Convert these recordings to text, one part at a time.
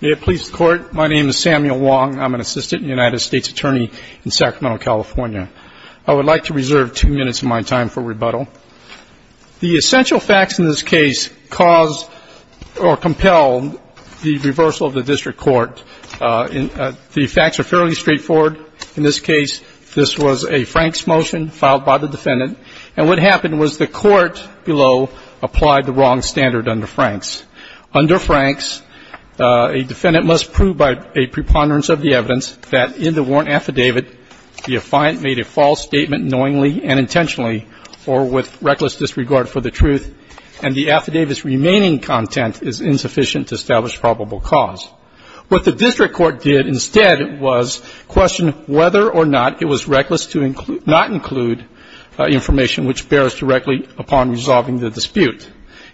May it please the Court, my name is Samuel Wong. I'm an assistant United States attorney in Sacramento, California. I would like to reserve two minutes of my time for rebuttal. The essential facts in this case cause or compel the reversal of the district court. The facts are fairly straightforward. In this case, this was a Franks motion filed by the defendant, and what happened was the court below applied the wrong standard under Franks. Under Franks, a defendant must prove by a preponderance of the evidence that in the warrant affidavit, the affiant made a false statement knowingly and intentionally or with reckless disregard for the truth and the affidavit's remaining content is insufficient to establish probable cause. What the district court did instead was question whether or not it was reckless to not include information which bears directly upon resolving the dispute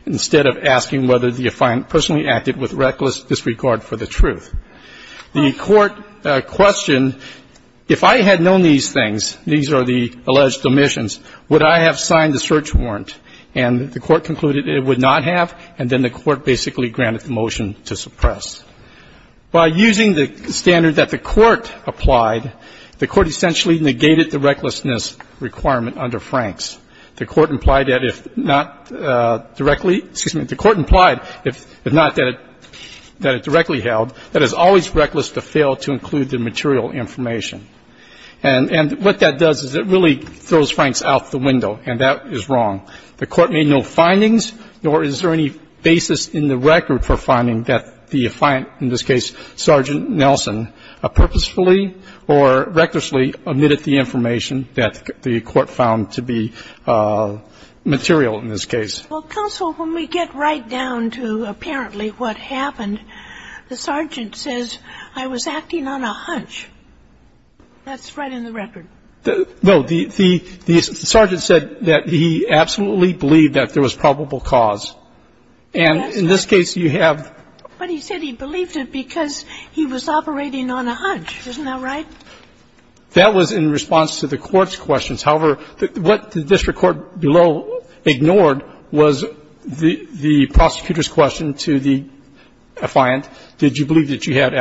instead of asking whether the affiant personally acted with reckless disregard for the truth. The court questioned, if I had known these things, these are the alleged omissions, would I have signed the search warrant, and the court concluded it would not have, and then the court basically granted the motion to suppress. By using the standard that the court applied, the court essentially negated the recklessness requirement under Franks. The court implied that if not directly, excuse me, the court implied, if not that it directly held, that it's always reckless to fail to include the material information. And what that does is it really throws Franks out the window, and that is wrong. The court made no findings, nor is there any basis in the record for finding that the affiant, in this case, Sergeant Nelson, purposefully or recklessly omitted the information that the court found to be material in this case. Well, counsel, when we get right down to apparently what happened, the sergeant says, I was acting on a hunch. That's right in the record. No, the sergeant said that he absolutely believed that there was probable cause. And in this case, you have But he said he believed it because he was operating on a hunch. Isn't that right? That was in response to the court's questions. However, what the district court below ignored was the prosecutor's question to the affiant. Did you believe that you had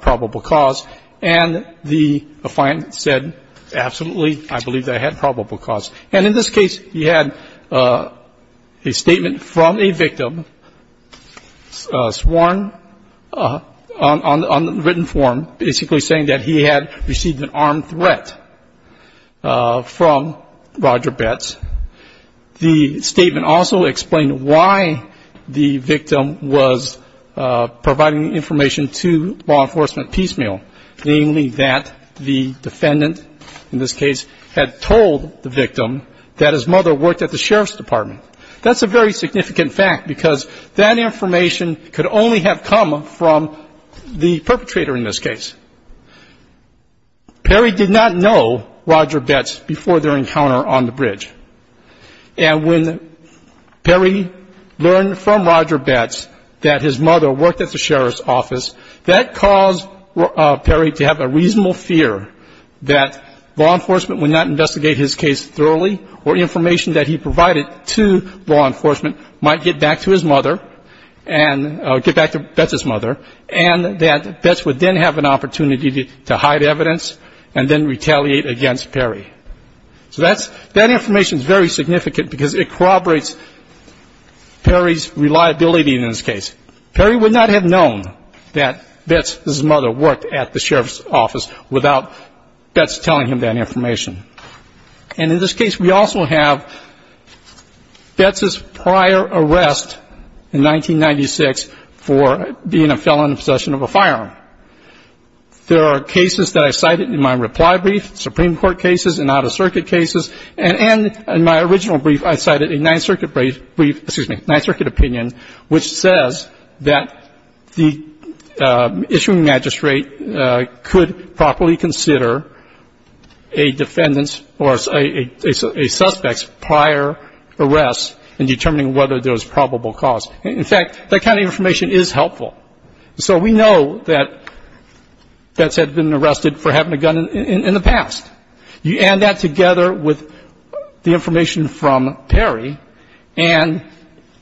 probable cause? And the affiant said, absolutely, I believe that I had probable cause. And in this case, he had a statement from a victim sworn on the written form basically saying that he had received an armed threat from Roger Betts. The statement also explained why the victim was providing information to law enforcement piecemeal, namely that the defendant, in this case, had told the victim that his mother worked at the sheriff's department. That's a very significant fact because that information could only have come from the perpetrator in this case. Perry did not know Roger Betts before their encounter on the bridge. And when Perry learned from Roger Betts that his mother worked at the sheriff's office, that caused Perry to have a reasonable fear that law enforcement would not investigate his case thoroughly or information that he provided to law enforcement might get back to his mother and get back to Betts' mother and that Betts would then have an opportunity to hide evidence and then retaliate against Perry. So that information is very significant because it corroborates Perry's reliability in this case. Perry would not have known that Betts' mother worked at the sheriff's office without Betts telling him that information. And in this case, we also have Betts' prior arrest in 1996 for being a felon in possession of a firearm. There are cases that I cited in my reply brief, Supreme Court cases and out-of-circuit cases. And in my original brief, I cited a Ninth Circuit brief, excuse me, Ninth Circuit opinion, which says that the issuing magistrate could properly consider a defendant's or a suspect's prior arrest in determining whether there was probable cause. In fact, that kind of information is helpful. So we know that Betts had been arrested for having a gun in the past. You add that together with the information from Perry and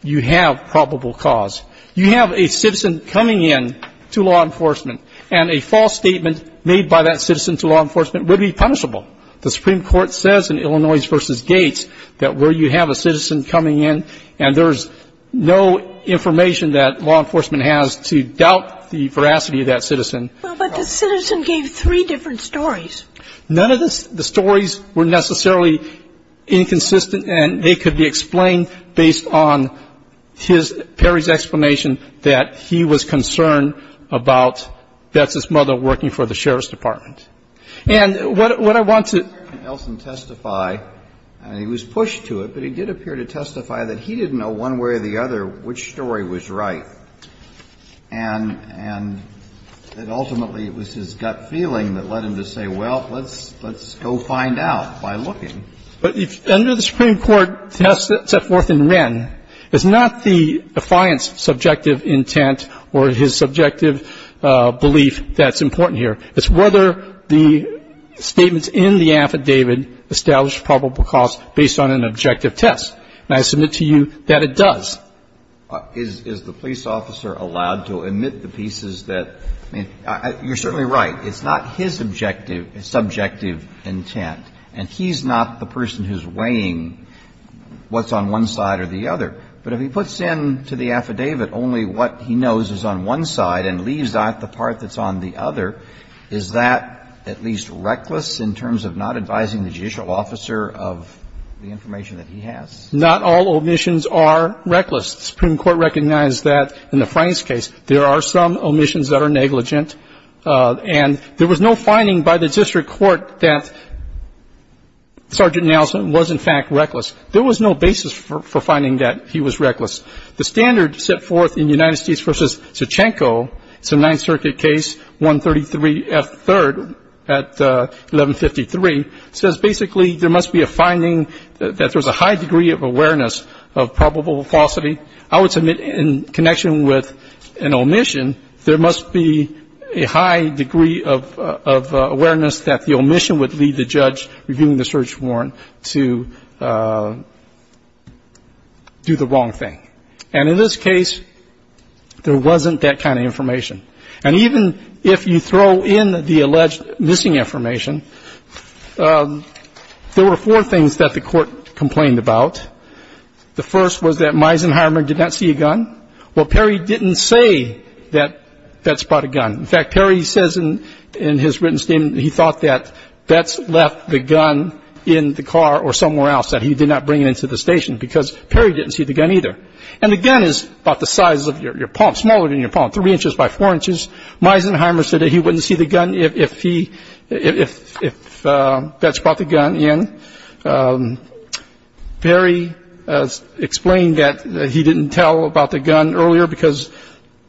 you have probable cause. You have a citizen coming in to law enforcement and a false statement made by that citizen to law enforcement would be punishable. The Supreme Court says in Illinois v. Gates that where you have a citizen coming in and there's no information that law enforcement has to doubt the veracity of that citizen. But the citizen gave three different stories. None of the stories were necessarily inconsistent and they could be explained based on his, Perry's explanation that he was concerned about Betts' mother working for the sheriff's department. And what I want to else testify, and he was pushed to it, but he did appear to testify that he didn't know one way or the other which story was right. And that ultimately it was his gut feeling that led him to say, well, let's go find out by looking. But if under the Supreme Court test set forth in Wren, it's not the defiance subjective intent or his subjective belief that's important here. It's whether the statements in the affidavit establish probable cause based on an objective test. And I submit to you that it does. Roberts, is the police officer allowed to omit the pieces that, I mean, you're certainly right, it's not his objective, subjective intent, and he's not the person who's weighing what's on one side or the other. But if he puts in to the affidavit only what he knows is on one side and leaves out the part that's on the other, is that at least reckless in terms of not advising the judicial officer of the information that he has? Not all omissions are reckless. The Supreme Court recognized that in the Franks case, there are some omissions that are negligent. And there was no finding by the district court that Sergeant Nelson was in fact reckless. There was no basis for finding that he was reckless. The standard set forth in United States versus Sochenko, it's a Ninth Circuit case, 133F3rd at 1153, says basically there must be a finding that there's a high degree of awareness of probable falsity. I would submit in connection with an omission, there must be a high degree of awareness that the omission would lead the judge reviewing the search warrant to do the wrong thing. And in this case, there wasn't that kind of information. And even if you throw in the alleged missing information, there were four things that the The first was that Meisenheimer did not see a gun. Well, Perry didn't say that Vets brought a gun. In fact, Perry says in his written statement, he thought that Vets left the gun in the car or somewhere else that he did not bring it into the station because Perry didn't see the gun either. And the gun is about the size of your palm, smaller than your palm, three inches by four inches. Meisenheimer said that he wouldn't see the gun if Vets brought the gun in. Perry explained that he didn't tell about the gun earlier because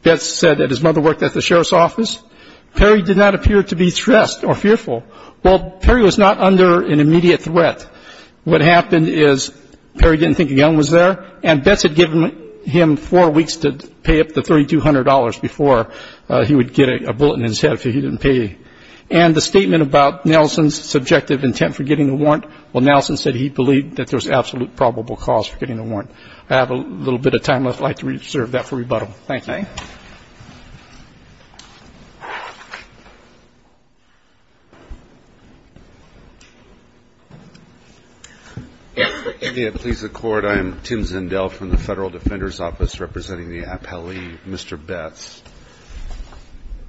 Vets said that his mother worked at the sheriff's office. Perry did not appear to be stressed or fearful. Well, Perry was not under an immediate threat. What happened is Perry didn't think a gun was there, and Vets had given him four weeks to pay up the $3,200 before he would get a bullet in his head if he didn't pay. And the statement about Nelson's subjective intent for getting a warrant, well, Nelson said he believed that there was absolute probable cause for getting a warrant. I have a little bit of time left. I'd like to reserve that for rebuttal. Thank you. Thank you. Please, the Court. I am Tim Zendel from the Federal Defender's Office representing the appellee, Mr. Betts.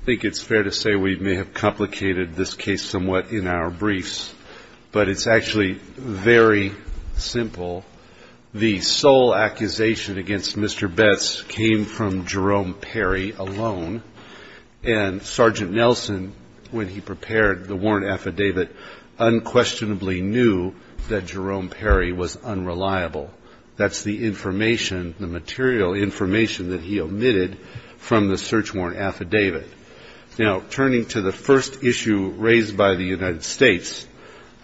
I think it's fair to say we may have complicated this case somewhat in our briefs, but it's actually very simple. The sole accusation against Mr. Betts came from Jerome Perry alone, and Sergeant Nelson, when he prepared the warrant affidavit, unquestionably knew that Jerome Perry was unreliable. That's the information, the material information that he omitted from the search warrant affidavit. Now, turning to the first issue raised by the United States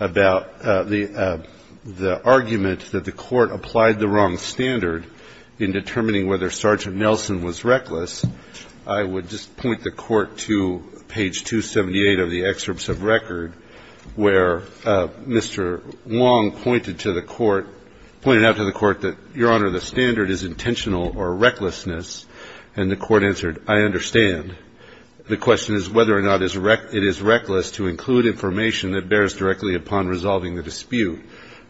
about the argument that the Court applied the wrong standard in determining whether Sergeant Nelson was reckless, I would just point the Court to page 278 of the excerpts of record where Mr. Long pointed to the Court, pointed out to the Court that, Your Honor, the standard is intentional or recklessness. And the Court answered, I understand. The question is whether or not it is reckless to include information that bears directly upon resolving the dispute.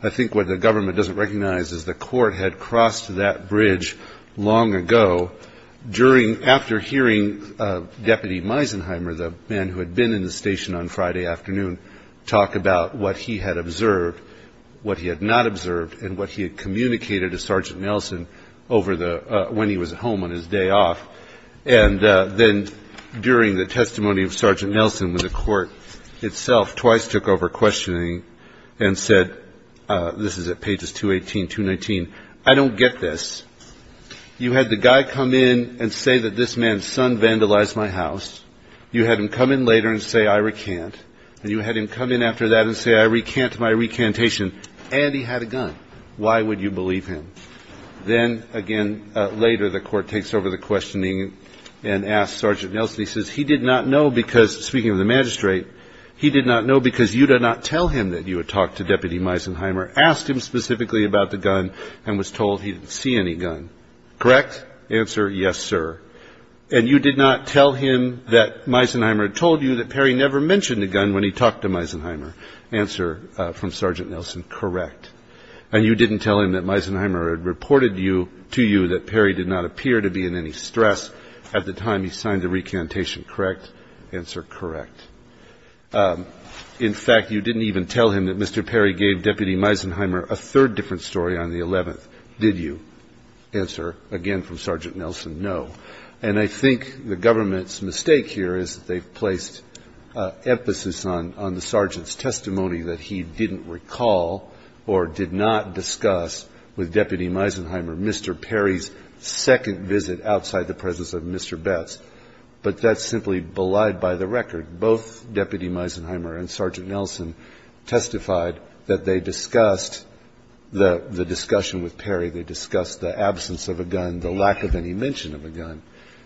I think what the government doesn't recognize is the Court had crossed that bridge long ago after hearing Deputy Meisenheimer, the man who had been in the station on Friday afternoon, talk about what he had observed, what he had not observed, and what he had communicated to Sergeant Nelson over the, when he was at home on his day off. And then during the testimony of Sergeant Nelson, when the Court itself twice took over questioning and said, this is at pages 218, 219, I don't get this. You had the guy come in and say that this man's son vandalized my house. You had him come in later and say, I recant, and you had him come in after that and say, I recant my recantation, and he had a gun. Why would you believe him? Then again, later, the Court takes over the questioning and asks Sergeant Nelson, he says, he did not know because, speaking of the magistrate, he did not know because you did not tell him that you had talked to Deputy Meisenheimer, asked him specifically about the gun, and was told he didn't see any gun. Correct? Answer, yes, sir. And you did not tell him that Meisenheimer had told you that Perry never mentioned the gun when he talked to Meisenheimer. Answer from Sergeant Nelson, correct. And you didn't tell him that Meisenheimer had reported you, to you, that Perry did not appear to be in any stress at the time he signed the recantation. Correct? Answer, correct. In fact, you didn't even tell him that Mr. Perry gave Deputy Meisenheimer a third different story on the 11th, did you? Answer, again, from Sergeant Nelson, no. And I think the government's mistake here is that they've placed emphasis on the sergeant's testimony that he didn't recall or did not discuss with Deputy Meisenheimer Mr. Perry's second visit outside the presence of Mr. Betts, but that's simply belied by the record. Both Deputy Meisenheimer and Sergeant Nelson testified that they discussed the discussion with Perry, they discussed the absence of a gun, the lack of any mention of a gun.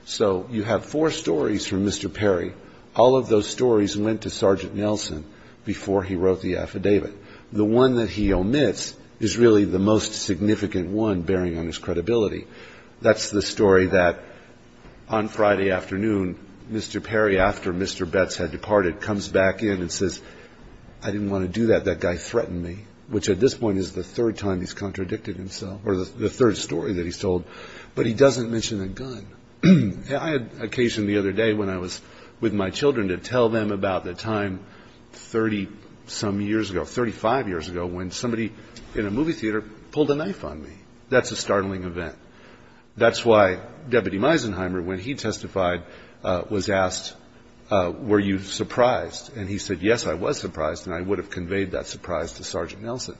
So you have four stories from Mr. Perry, all of those stories went to Sergeant Nelson before he wrote the affidavit. The one that he omits is really the most significant one bearing on his credibility. That's the story that on Friday afternoon, Mr. Perry, after Mr. Betts had departed, comes back in and says, I didn't want to do that, that guy threatened me, which at this point is the third time he's contradicted himself, or the third story that he's told, but he doesn't mention a gun. I had occasion the other day when I was with my children to tell them about the time 30-some years ago, 35 years ago, when somebody in a movie theater pulled a knife on me. That's a startling event. That's why Deputy Meisenheimer, when he testified, was asked, were you surprised? And he said, yes, I was surprised, and I would have conveyed that surprise to Sergeant Nelson.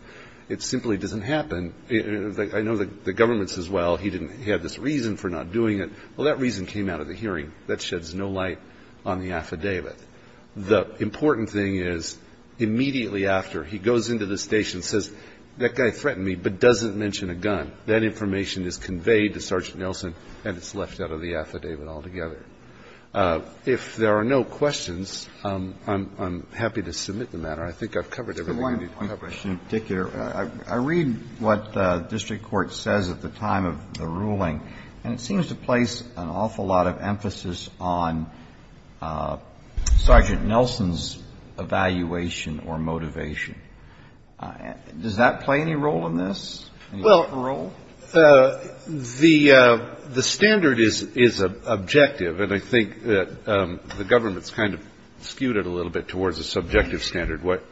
It simply doesn't happen. I know the government says, well, he had this reason for not doing it. Well, that reason came out of the hearing. That sheds no light on the affidavit. The important thing is, immediately after, he goes into the station and says, that guy threatened me, but doesn't mention a gun. That information is conveyed to Sergeant Nelson, and it's left out of the affidavit altogether. If there are no questions, I'm happy to submit the matter. I think I've covered everything. I read what the district court says at the time of the ruling, and it seems to place an awful lot of emphasis on Sergeant Nelson's evaluation or motivation. Does that play any role in this? Well, the standard is objective, and I think the government's kind of skewed it a little bit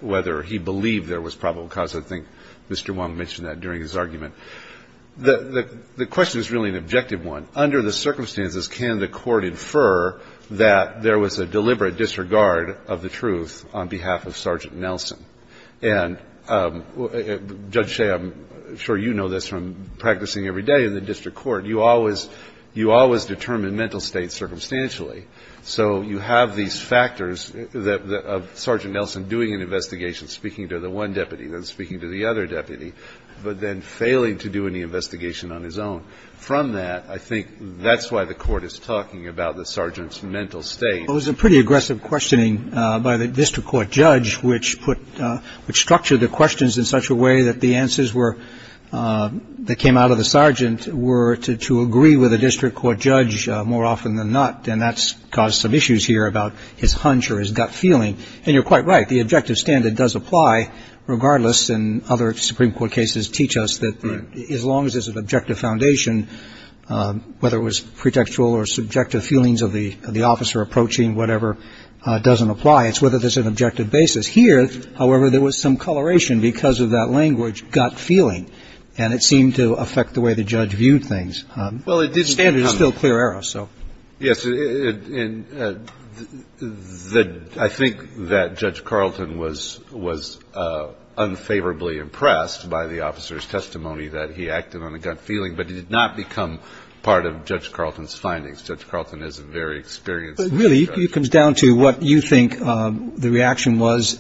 whether he believed there was probable cause. I think Mr. Wong mentioned that during his argument. The question is really an objective one. Under the circumstances, can the court infer that there was a deliberate disregard of the truth on behalf of Sergeant Nelson? And Judge Shea, I'm sure you know this from practicing every day in the district court. You always determine mental states circumstantially. So you have these factors of Sergeant Nelson doing an investigation, speaking to the one deputy, then speaking to the other deputy, but then failing to do any investigation on his own. From that, I think that's why the court is talking about the sergeant's mental state. It was a pretty aggressive questioning by the district court judge, which structured the questions in such a way that the answers that came out of the sergeant were to agree with the district court judge more often than not. And that's caused some issues here about his hunch or his gut feeling. And you're quite right. The objective standard does apply regardless, and other Supreme Court cases teach us that as long as there's an objective foundation, whether it was pretextual or subjective feelings of the officer approaching, whatever, doesn't apply. It's whether there's an objective basis. Here, however, there was some coloration because of that language, gut feeling, and it seemed to affect the way the judge viewed things. The standard is still clear error, so. Yes, and I think that Judge Carlton was unfavorably impressed by the officer's testimony that he acted on a gut feeling, but he did not become part of Judge Carlton's findings. Judge Carlton is a very experienced judge. Really, it comes down to what you think the reaction was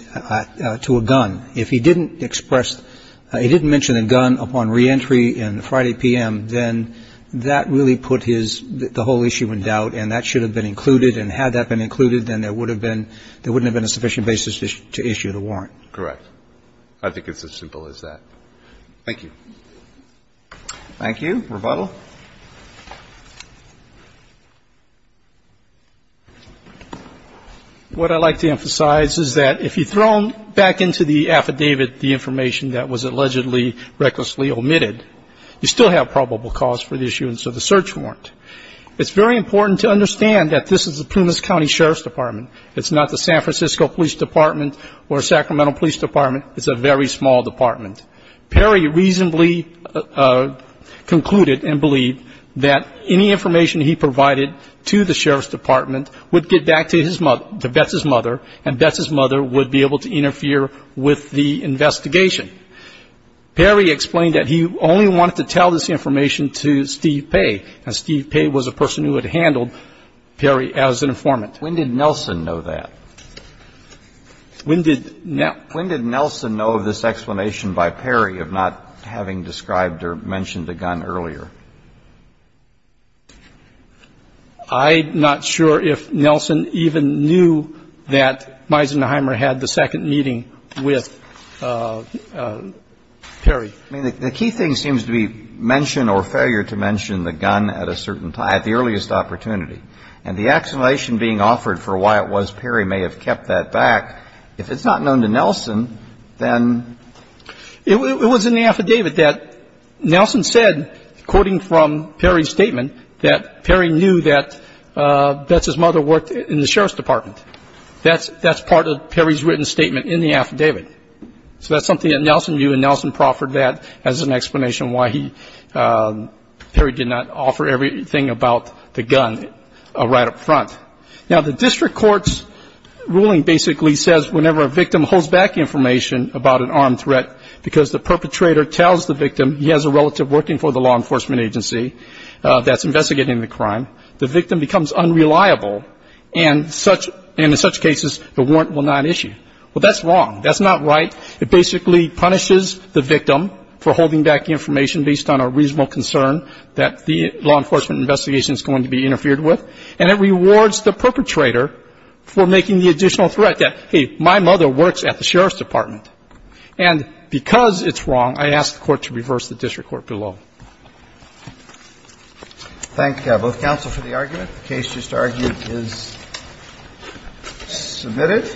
to a gun. If he didn't express, he didn't mention a gun upon reentry on Friday p.m., then that really put his, the whole issue in doubt, and that should have been included. And had that been included, then there would have been, there wouldn't have been a sufficient basis to issue the warrant. Correct. I think it's as simple as that. Thank you. Thank you. Rebuttal. What I'd like to emphasize is that if you throw back into the affidavit the information that was allegedly recklessly omitted, you still have probable cause for the issue, and so the search warrant. It's very important to understand that this is the Pumas County Sheriff's Department. It's not the San Francisco Police Department or Sacramento Police Department. It's a very small department. Perry reasonably concluded and believed that any information he provided to the Sheriff's Department would get back to his mother, to Betz's mother, and Betz's mother would be able to interfere with the investigation. Perry explained that he only wanted to tell this information to Steve Paye, and Steve Paye was a person who had handled Perry as an informant. When did Nelson know that? When did Nelson know of this explanation by Perry of not having described or mentioned a gun earlier? I'm not sure if Nelson even knew that Meisenheimer had the second meeting with Perry. I mean, the key thing seems to be mention or failure to mention the gun at a certain time, at the earliest opportunity, and the explanation being offered for why it was Perry may have kept that back. If it's not known to Nelson, then? It was in the affidavit that Nelson said, quoting from Perry's statement, that Perry knew that Betz's mother worked in the Sheriff's Department. That's part of Perry's written statement in the affidavit. So that's something that Nelson knew, and Nelson proffered that as an explanation why Perry did not offer everything about the gun right up front. Now, the district court's ruling basically says whenever a victim holds back information about an armed threat because the perpetrator tells the victim he has a relative working for the law enforcement agency that's investigating the crime, the victim becomes unreliable, and in such cases, the warrant will not issue. Well, that's wrong. That's not right. It basically punishes the victim for holding back information based on a reasonable concern that the law enforcement investigation is going to be interfered with, and it rewards the perpetrator for making the additional threat that, hey, my mother works at the Sheriff's Department. And because it's wrong, I ask the Court to reverse the district court below. Thank you, both counsel, for the argument. The case, just argued, is submitted.